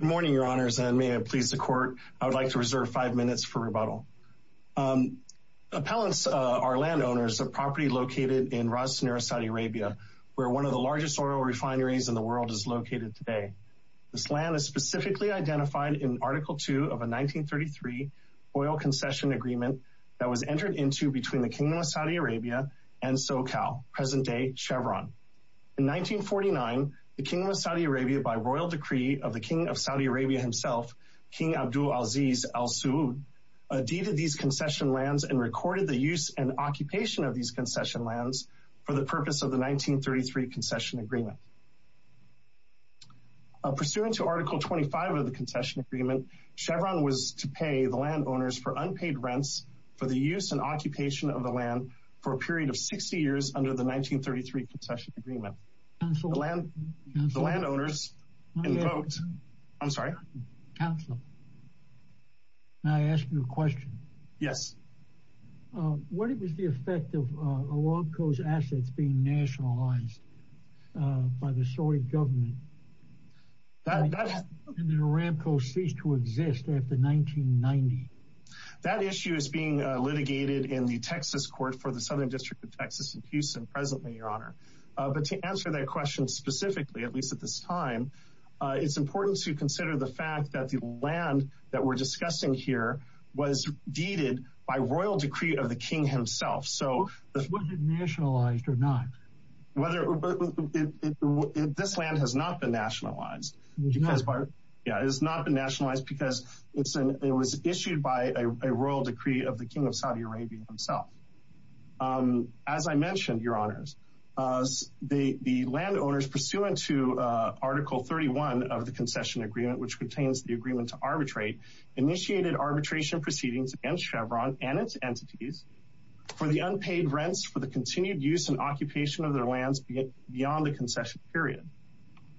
Good morning your honors and may it please the court I would like to reserve five minutes for rebuttal. Appellants are landowners of property located in Ras Nura Saudi Arabia where one of the largest oil refineries in the world is located today. This land is specifically identified in Article 2 of a 1933 oil concession agreement that was entered into between the Kingdom of Saudi Arabia and SoCal, present-day Chevron. In 1949 the Kingdom of Saudi Arabia by royal decree of the King of Saudi Arabia himself King Abdul Aziz Al Suud deeded these concession lands and recorded the use and occupation of these concession lands for the purpose of the 1933 concession agreement. Pursuant to Article 25 of the concession agreement Chevron was to pay the landowners for unpaid rents for the use and occupation of the land for a period of 60 years under the I'm sorry. Counselor, may I ask you a question? Yes. What it was the effect of Aramco's assets being nationalized by the Saudi government that Aramco ceased to exist after 1990? That issue is being litigated in the Texas court for the Southern District of Texas in Houston presently your honor but to answer that question specifically at least at this time it's important to consider the fact that the land that we're discussing here was deeded by royal decree of the King himself. So was it nationalized or not? This land has not been nationalized. Yeah it has not been nationalized because it was issued by a royal decree of the King of Saudi Arabia himself. As I mentioned your honors the landowners pursuant to Article 31 of the concession agreement which contains the agreement to arbitrate initiated arbitration proceedings against Chevron and its entities for the unpaid rents for the continued use and occupation of their lands beyond the concession period.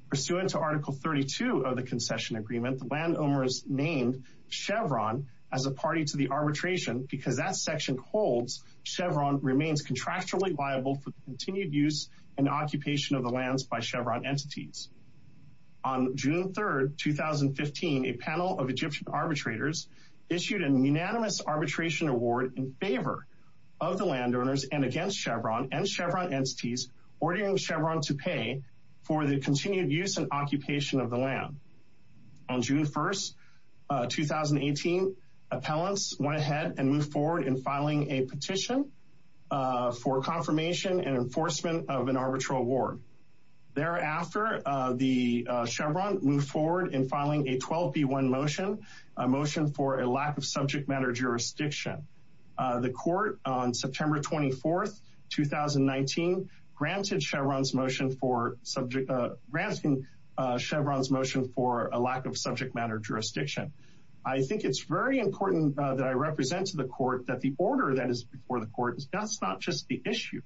Pursuant to Article 32 of the concession agreement the landowners named Chevron as a party to the arbitration because that section holds Chevron remains contractually liable for occupation of the lands by Chevron entities. On June 3rd 2015 a panel of Egyptian arbitrators issued a unanimous arbitration award in favor of the landowners and against Chevron and Chevron entities ordering Chevron to pay for the continued use and occupation of the land. On June 1st 2018 appellants went ahead and moved forward in filing a petition for confirmation and arbitral award. Thereafter the Chevron moved forward in filing a 12b1 motion a motion for a lack of subject matter jurisdiction. The court on September 24th 2019 granted Chevron's motion for subject granting Chevron's motion for a lack of subject matter jurisdiction. I think it's very important that I represent to the court that the order that is before the court is that's not just the issue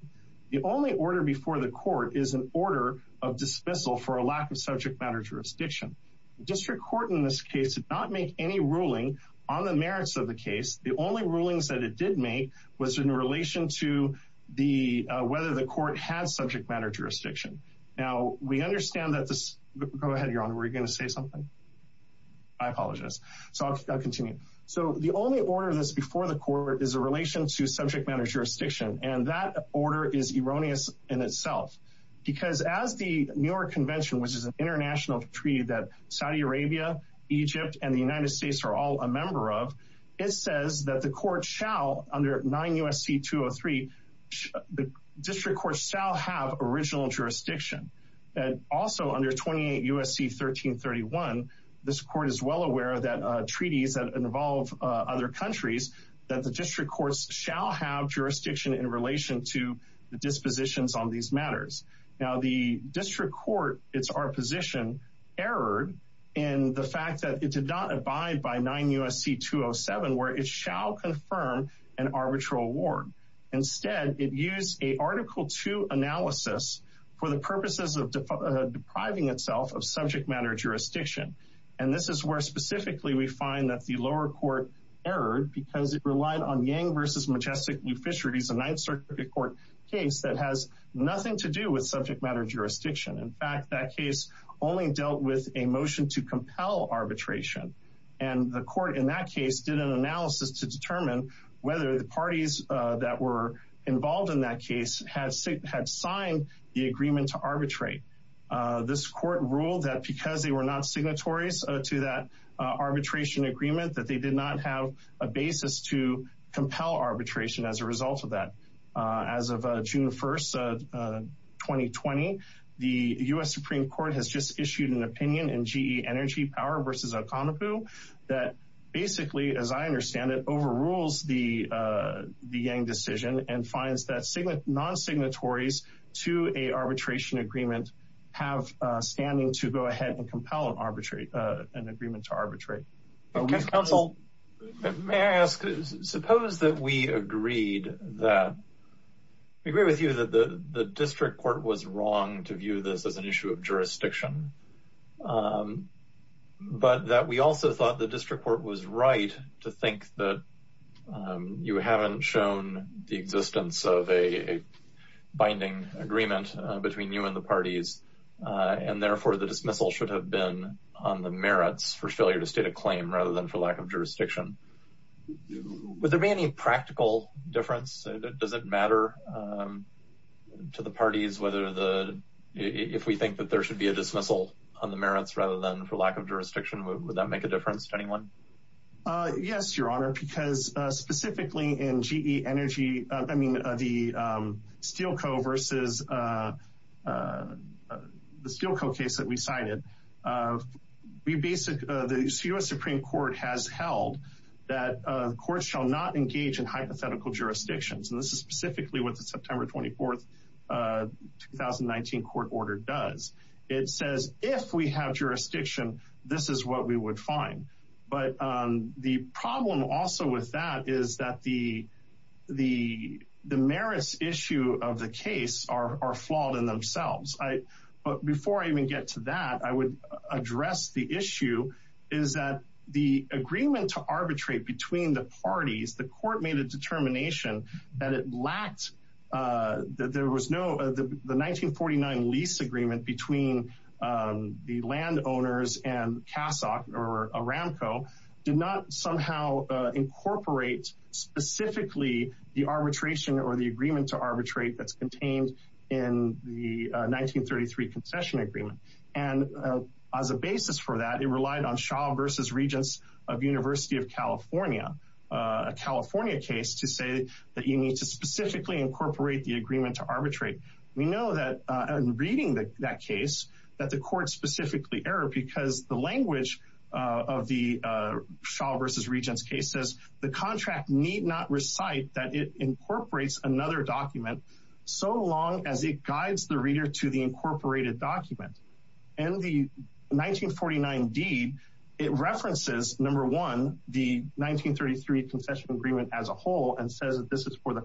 the only order before the court is an order of dismissal for a lack of subject matter jurisdiction. District Court in this case did not make any ruling on the merits of the case the only rulings that it did make was in relation to the whether the court had subject matter jurisdiction. Now we understand that this go ahead your honor we're gonna say something I apologize so I'll continue so the only order this before the court is a relation to that order is erroneous in itself because as the New York Convention which is an international treaty that Saudi Arabia Egypt and the United States are all a member of it says that the court shall under 9 U.S.C. 203 the District Court shall have original jurisdiction and also under 28 U.S.C. 1331 this court is well aware that treaties that involve other countries that the District Courts shall have jurisdiction in relation to the dispositions on these matters. Now the District Court it's our position erred in the fact that it did not abide by 9 U.S.C. 207 where it shall confirm an arbitral award. Instead it used a article 2 analysis for the purposes of depriving itself of subject matter jurisdiction and this is where specifically we find that the lower court erred because it relied on Yang versus Majestic New Fisheries a 9th Circuit Court case that has nothing to do with subject matter jurisdiction in fact that case only dealt with a motion to compel arbitration and the court in that case did an analysis to determine whether the parties that were involved in that case had signed the agreement to arbitrate. This court ruled that because they were not signatories to that arbitration agreement that they did not have a basis to compel arbitration as a result of that. As of June 1st 2020 the U.S. Supreme Court has just issued an opinion in GE Energy Power versus Okonopo that basically as I understand it overrules the Yang decision and finds that non-signatories to a arbitration agreement have standing to go ahead and compel an arbitrate an agreement to arbitrate. Counsel may I ask suppose that we agreed that we agree with you that the the district court was wrong to view this as an issue of jurisdiction but that we also thought the district court was right to think that you haven't shown the existence of a binding agreement between you and the parties and therefore the dismissal should have been on the merits for failure to state a claim rather than for lack of jurisdiction. Would there be any practical difference does it matter to the parties whether the if we think that there should be a dismissal on the merits rather than for lack of jurisdiction would that make a difference to anyone? Yes your honor because specifically in GE Energy I mean the Steelco versus the Steelco case that we cited we basic the U.S. Supreme Court has held that courts shall not engage in hypothetical jurisdictions and this is specifically with the September 24th 2019 court order does it says if we have jurisdiction this is what we would find but the problem also with that is that the the the merits issue of the case are flawed in themselves I but before I even get to that I would address the issue is that the agreement to arbitrate between the parties the court made a determination that it lacked that there was no the 1949 lease agreement between the landowners and or Aramco did not somehow incorporate specifically the arbitration or the agreement to arbitrate that's contained in the 1933 concession agreement and as a basis for that it relied on Shaw versus Regents of University of California a California case to say that you need to specifically incorporate the agreement to arbitrate we know that I'm reading that that case that the court specifically error because the language of the Shaw versus Regents case says the contract need not recite that it incorporates another document so long as it guides the reader to the incorporated document and the 1949 deed it references number one the 1933 concession agreement as a whole and says that this is for the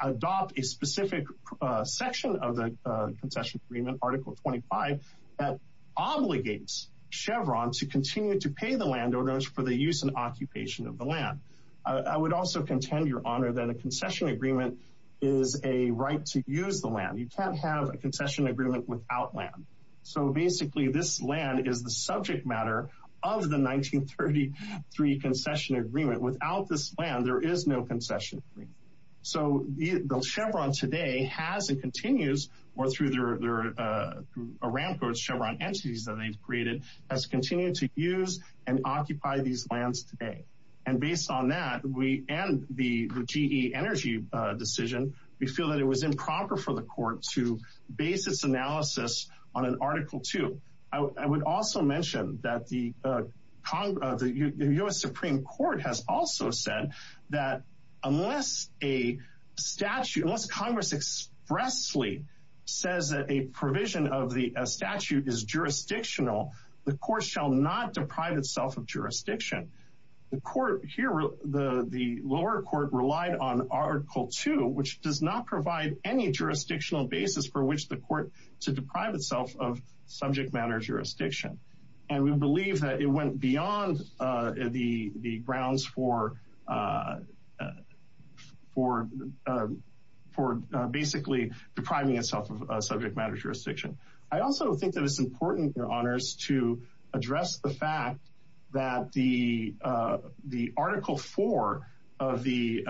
adopt a specific section of the concession agreement article 25 that obligates Chevron to continue to pay the landowners for the use and occupation of the land I would also contend your honor that a concession agreement is a right to use the land you can't have a concession agreement without land so basically this land is the subject matter of the 1933 concession agreement without this plan there is no concession so the Chevron today has it continues or through their a ramp or Chevron entities that they've created has continued to use and occupy these lands today and based on that we and the GE energy decision we feel that it was improper for the court to base its analysis on an article 2 I would also mention that the Congress the US Supreme Court has also said that unless a statute unless Congress expressly says that a provision of the statute is jurisdictional the court shall not deprive itself of jurisdiction the court here the the lower court relied on article 2 which does not provide any jurisdictional basis for which the court to deprive itself of subject matter jurisdiction and we believe that it went beyond the the grounds for for for basically depriving itself of subject matter jurisdiction I also think that it's important your honors to address the fact that the the article 4 of the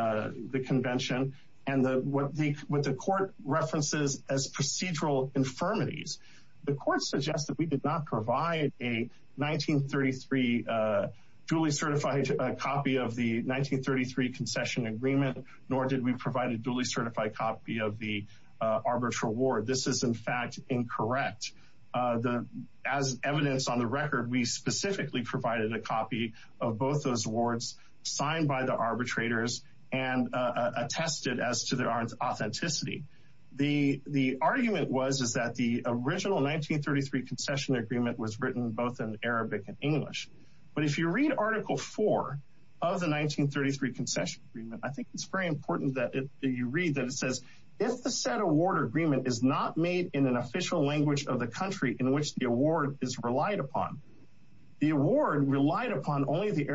the convention and the what the with the court references as procedural infirmities the court suggests that we did not provide a 1933 Julie certified a copy of the 1933 concession agreement nor did we provide a duly certified copy of the arbitral war this is in fact incorrect the as evidence on the record we specifically provided a copy of both those awards signed by the arbitrators and attested as to their aren't authenticity the the argument was is that the original 1933 concession agreement was written both in Arabic and English but if you read article 4 of the 1933 concession agreement I think it's very important that if you read that it says if the set award agreement is not made in an official language of the country in which the award is relied upon the award relied upon only the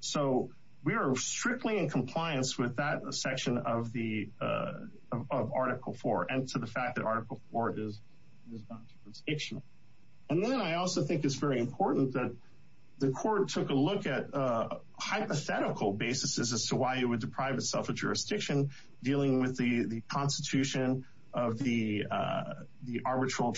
so we are strictly in compliance with that section of the article 4 and to the fact that article 4 is and then I also think it's very important that the court took a look at a hypothetical basis as to why you would deprive itself of jurisdiction dealing with the the Constitution of the the arbitral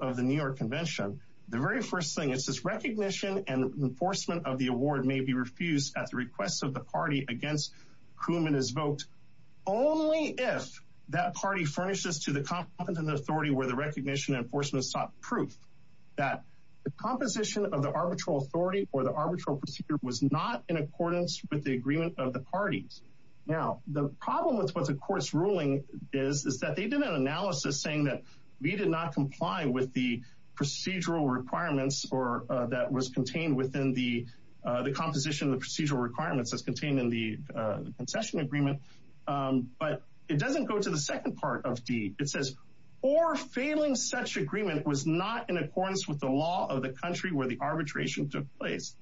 of the New York Convention the very first thing it's this recognition and enforcement of the award may be refused at the request of the party against whom in his vote only if that party furnishes to the competent authority where the recognition enforcement sought proof that the composition of the arbitral authority or the arbitral procedure was not in accordance with the agreement of the parties now the problem with what's of course ruling is is that they did an comply with the procedural requirements or that was contained within the the composition of the procedural requirements as contained in the concession agreement but it doesn't go to the second part of D it says or failing such agreement was not in accordance with the law of the country where the arbitration took place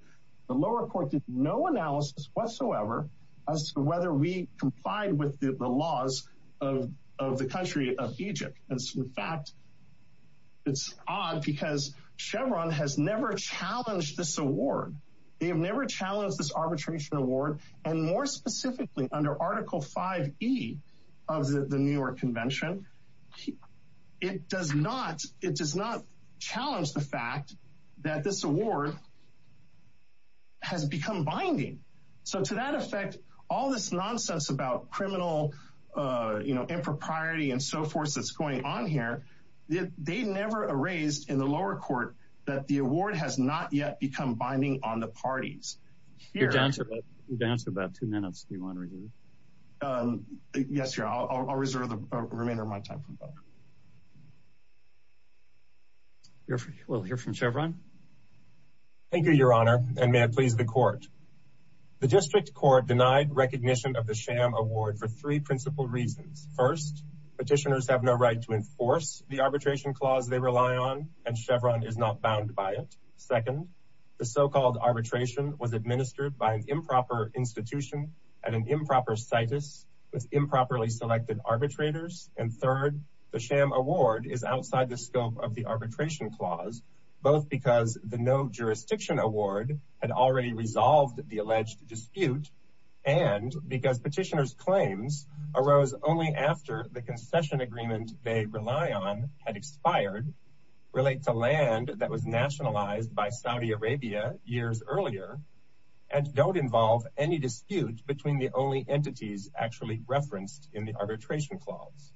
the lower court did no analysis whatsoever as to whether we complied with the laws of the country of Egypt as in fact it's odd because Chevron has never challenged this award they have never challenged this arbitration award and more specifically under article 5e of the New York Convention it does not it does not challenge the fact that this award has become binding so to that effect all this nonsense about criminal you know impropriety and so forth that's going on here they never erased in the lower court that the award has not yet become binding on the parties you're down to dance about two minutes do you want to read yes you're all reserve the your honor and may I please the court the district court denied recognition of the sham award for three principal reasons first petitioners have no right to enforce the arbitration clause they rely on and Chevron is not bound by it second the so-called arbitration was administered by an improper institution and an improper situs with improperly selected arbitrators and third the sham award is outside the scope of the arbitration clause both because the no jurisdiction award had already resolved the alleged dispute and because petitioners claims arose only after the concession agreement they rely on had expired relate to land that was nationalized by Saudi Arabia years earlier and don't involve any dispute between the only entities actually referenced in the arbitration clause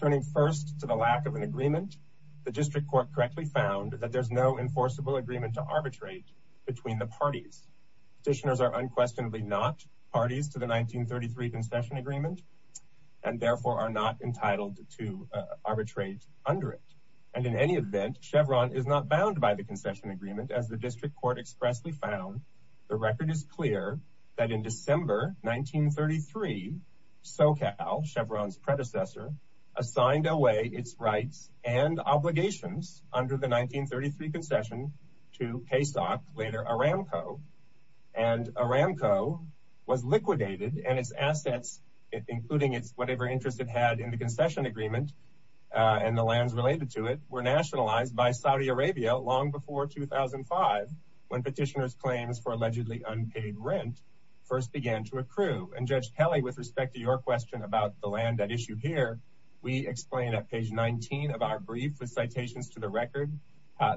turning first to the lack of an agreement the district court correctly found that there's no enforceable agreement to arbitrate between the parties petitioners are unquestionably not parties to the 1933 concession agreement and therefore are not entitled to arbitrate under it and in any event Chevron is not bound by the concession agreement as the district court expressly found the record is clear that in December 1933 SoCal Chevron's predecessor assigned away its rights and obligations under the 1933 concession to pay stock later Aramco and Aramco was liquidated and its assets including its whatever interest it had in the concession agreement and the lands related to it were nationalized by Saudi Arabia long before 2005 when petitioners claims for allegedly unpaid rent first began to accrue and Judge Kelly with respect to your question about the land that issue here we explain at page 19 of our brief with citations to the record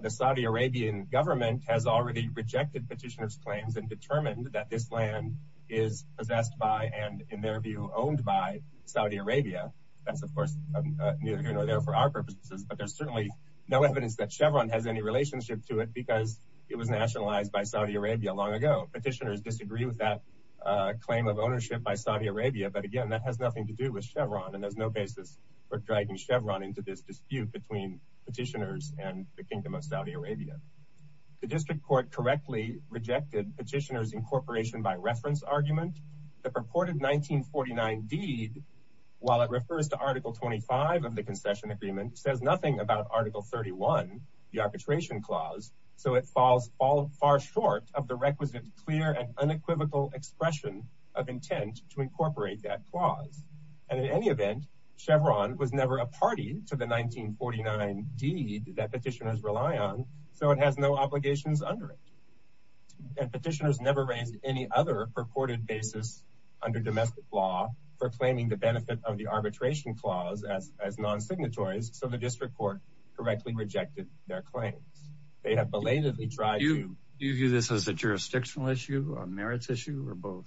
the Saudi Arabian government has already rejected petitioners claims and determined that this land is possessed by and in their view owned by Saudi Arabia that's of course for our purposes but there's certainly no evidence that Chevron has any relationship to it because it was nationalized by Saudi Arabia long ago petitioners disagree with that claim of to do with Chevron and there's no basis for dragging Chevron into this dispute between petitioners and the kingdom of Saudi Arabia the district court correctly rejected petitioners incorporation by reference argument the purported 1949 deed while it refers to article 25 of the concession agreement says nothing about article 31 the arbitration clause so it falls all far short of the requisite clear and unequivocal expression of intent to Chevron was never a party to the 1949 deed that petitioners rely on so it has no obligations under it petitioners never raised any other purported basis under domestic law for claiming the benefit of the arbitration clause as as non-signatories so the district court correctly rejected their claims they have belatedly tried you use this as a jurisdictional issue on merits issue or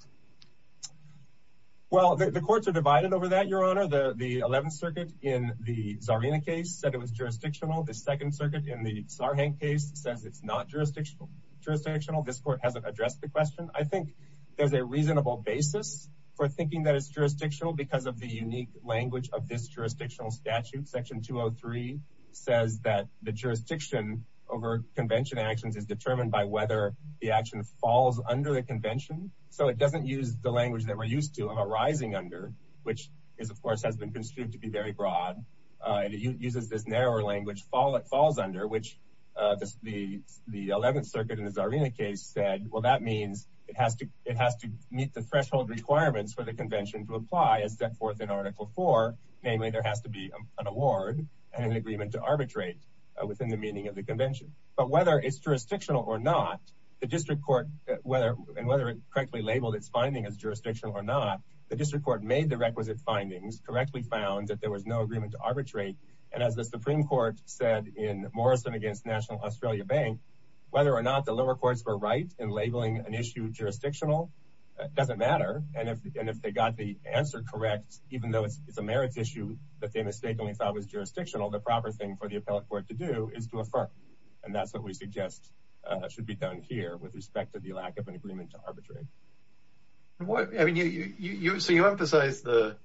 well the courts are divided over that your honor the the 11th circuit in the Zarina case said it was jurisdictional the Second Circuit in the Sarhang case says it's not jurisdictional jurisdictional this court hasn't addressed the question I think there's a reasonable basis for thinking that it's jurisdictional because of the unique language of this jurisdictional statute section 203 says that the jurisdiction over convention actions is determined by whether the action falls under the convention so it doesn't use the language that we're used to have a rising under which is of course has been construed to be very broad and it uses this narrower language follow it falls under which the the 11th circuit in the Zarina case said well that means it has to it has to meet the threshold requirements for the convention to apply as set forth in article 4 namely there has to be an award and an agreement to arbitrate within the meaning of the convention but whether it's jurisdictional or not the district court whether and whether it correctly labeled its finding as jurisdictional or not the district court made the requisite findings correctly found that there was no agreement to arbitrate and as the Supreme Court said in Morrison against National Australia Bank whether or not the lower courts were right in labeling an issue jurisdictional it doesn't matter and if they got the answer correct even though it's a merits issue that they mistakenly thought was jurisdictional the proper thing for the appellate court to do is to affirm and that's what we suggest should be done here with respect to the lack of an agreement to arbitrate what I mean you see you emphasize the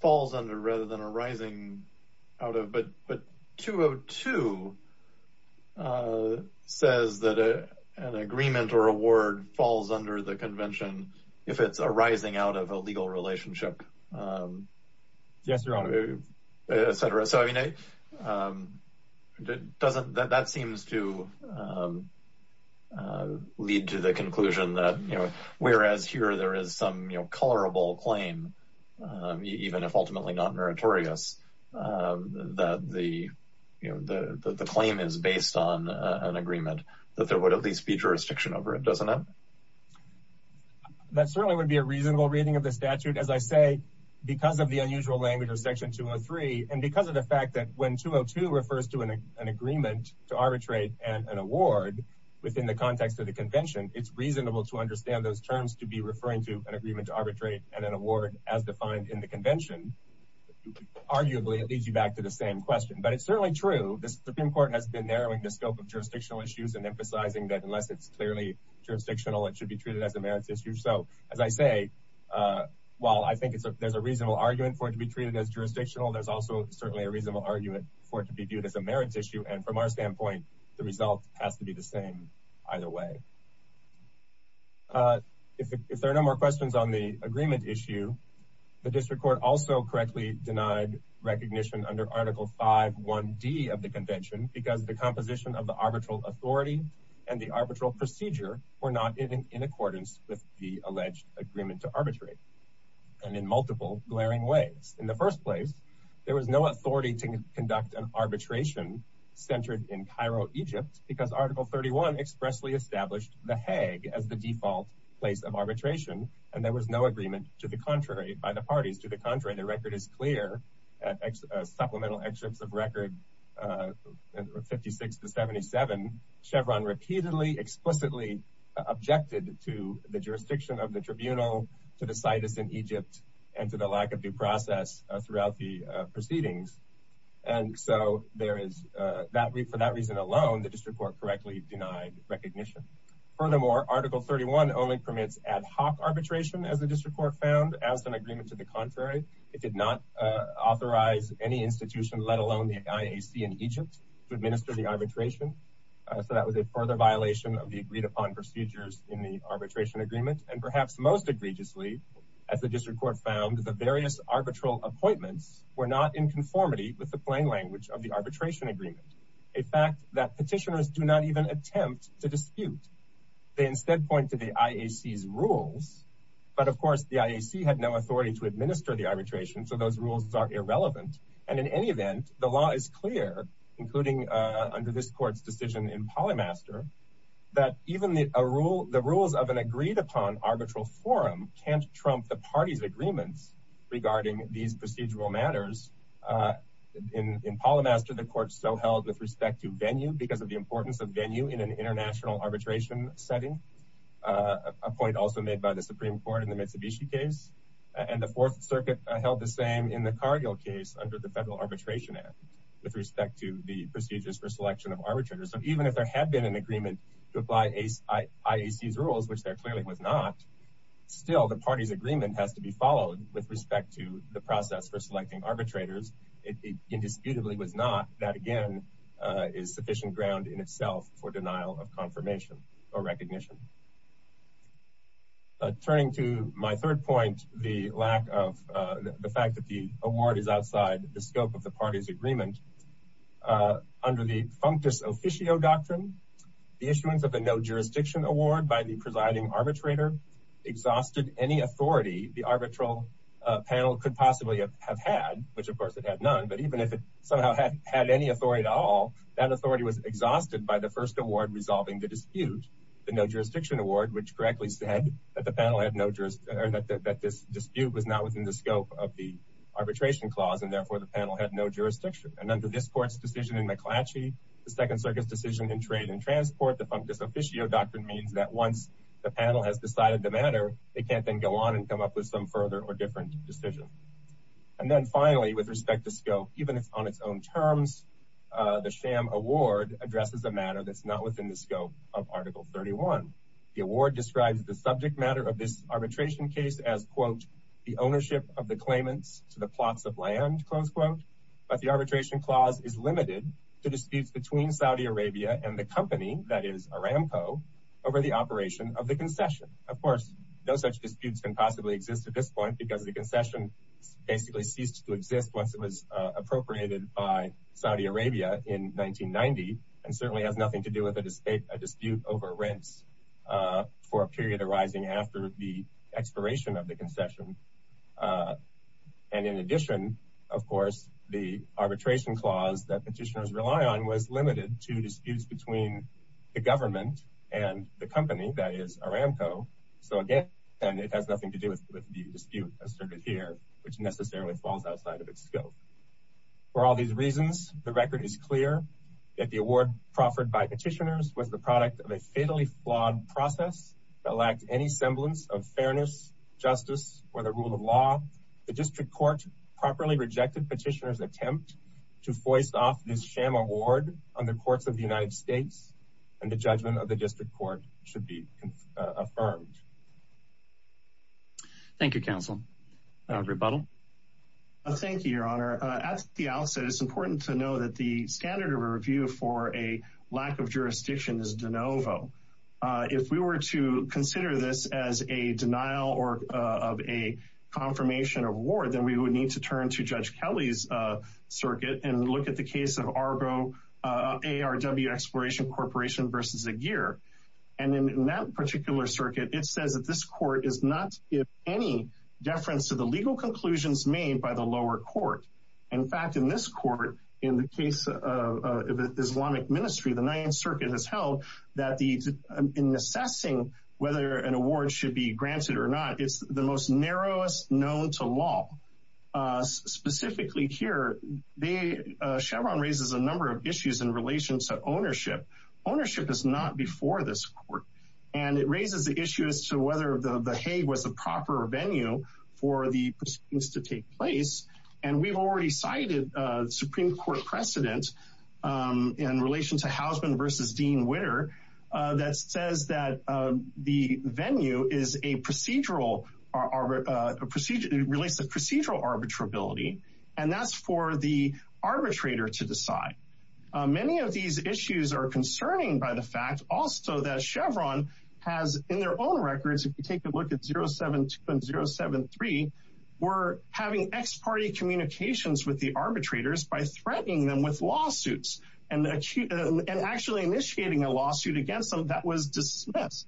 falls under rather than a rising out of but but 202 says that a an agreement or award falls under the convention if it's rising out of a legal relationship doesn't that seems to lead to the conclusion that you know whereas here there is some you know colorable claim even if ultimately not meritorious that the you know the the claim is based on an agreement that there would at least be jurisdiction over it doesn't it that certainly would be a reasonable reading of the statute as I say because of the unusual language or section 203 and because of the fact that when 202 refers to an agreement to arbitrate and an award within the context of the convention it's reasonable to understand those terms to be referring to an agreement to arbitrate and an award as defined in the convention arguably it leads you back to the same question but it's certainly true the Supreme Court has been narrowing the scope of it's clearly jurisdictional it should be treated as emeritus you so as I say well I think it's a there's a reasonable argument for it to be treated as jurisdictional there's also certainly a reasonable argument for it to be viewed as a merits issue and from our standpoint the result has to be the same either way if there are no more questions on the agreement issue the district court also correctly denied recognition under article 5 1d of the procedure or not in accordance with the alleged agreement to arbitrate and in multiple glaring ways in the first place there was no authority to conduct an arbitration centered in Cairo Egypt because article 31 expressly established the Hague as the default place of arbitration and there was no agreement to the contrary by the parties to the contrary the record is clear supplemental explicitly objected to the jurisdiction of the tribunal to the situs in Egypt and to the lack of due process throughout the proceedings and so there is that week for that reason alone the district court correctly denied recognition furthermore article 31 only permits ad hoc arbitration as the district court found as an agreement to the contrary it did not authorize any institution let alone the IAC in Egypt to administer the arbitration so that was a further violation of the agreed-upon procedures in the arbitration agreement and perhaps most egregiously as the district court found the various arbitral appointments were not in conformity with the plain language of the arbitration agreement a fact that petitioners do not even attempt to dispute they instead point to the IAC's rules but of course the IAC had no authority to administer the arbitration so those rules are irrelevant and in any that even the rule the rules of an agreed-upon arbitral forum can't trump the party's agreements regarding these procedural matters in in polymath to the court so held with respect to venue because of the importance of venue in an international arbitration setting a point also made by the Supreme Court in the Mitsubishi case and the Fourth Circuit held the same in the Cargill case under the Federal Arbitration Act with respect to the procedures for selection of arbitrators so even if there had been an agreement to apply a IAC's rules which there clearly was not still the party's agreement has to be followed with respect to the process for selecting arbitrators it indisputably was not that again is sufficient ground in itself for denial of confirmation or recognition turning to my third point the lack of the fact that the award is officio doctrine the issuance of a no jurisdiction award by the presiding arbitrator exhausted any authority the arbitral panel could possibly have had which of course it had none but even if it somehow hadn't had any authority at all that authority was exhausted by the first award resolving the dispute the no jurisdiction award which correctly said that the panel had no jurors that this dispute was not within the scope of the arbitration clause and therefore the decision in McClatchy the Second Circus decision in trade and transport the fungus officio doctrine means that once the panel has decided the matter they can't then go on and come up with some further or different decision and then finally with respect to scope even if on its own terms the sham award addresses a matter that's not within the scope of article 31 the award describes the subject matter of this arbitration case as quote the ownership of the claimants to the plots of land close quote but the arbitration clause is limited to disputes between Saudi Arabia and the company that is Aramco over the operation of the concession of course no such disputes can possibly exist at this point because the concession basically ceased to exist once it was appropriated by Saudi Arabia in 1990 and certainly has nothing to do with a dispute a dispute over rents for a period arising after the expiration of the concession and in addition of course the arbitration clause that petitioners rely on was limited to disputes between the government and the company that is Aramco so again and it has nothing to do with the dispute asserted here which necessarily falls outside of its scope for all these reasons the record is clear that the award proffered by petitioners was the product of a fatally flawed process that lacked any semblance of fairness justice or the rule of law the district court properly rejected petitioners attempt to foist off this sham award on the courts of the United States and the judgment of the district court should be affirmed Thank You counsel rebuttal thank you your honor at the outset it's important to know that the lack of jurisdiction is de novo if we were to consider this as a denial or of a confirmation of war then we would need to turn to judge Kelly's circuit and look at the case of Argo ARW Exploration Corporation versus a gear and in that particular circuit it says that this court is not if any deference to the legal conclusions made by the lower court in fact in this court in the case Islamic Ministry the 9th Circuit has held that the in assessing whether an award should be granted or not it's the most narrowest known to law specifically here they Chevron raises a number of issues in relations to ownership ownership is not before this court and it raises the issue as to whether the the Hague was a proper venue for the proceedings to take place and we've already cited Supreme Court precedent in relation to Hausman versus Dean Witter that says that the venue is a procedural our procedure relates the procedural arbitrability and that's for the arbitrator to decide many of these issues are concerning by the fact also that Chevron has in their own records if 0 7 2 and 0 7 3 were having ex-party communications with the arbitrators by threatening them with lawsuits and actually initiating a lawsuit against them that was dismissed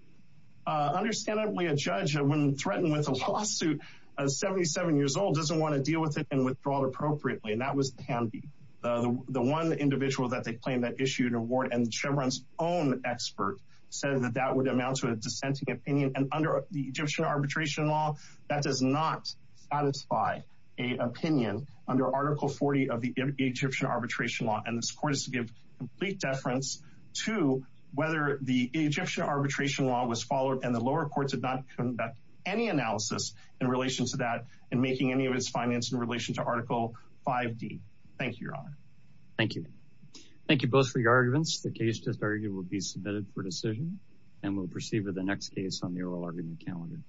understandably a judge when threatened with a lawsuit of 77 years old doesn't want to deal with it and withdraw it appropriately and that was handy the one individual that they claim that issued a ward and Chevron's own expert said that that would amount to a dissenting opinion and under the Egyptian arbitration law that does not satisfy a opinion under article 40 of the Egyptian arbitration law and this court is to give complete deference to whether the Egyptian arbitration law was followed and the lower courts have not come back any analysis in relation to that and making any of its finance in relation to article 5d thank you your honor thank you thank you both for your arguments the case just argued will be submitted for decision and we'll proceed with the next case on the oral argument calendar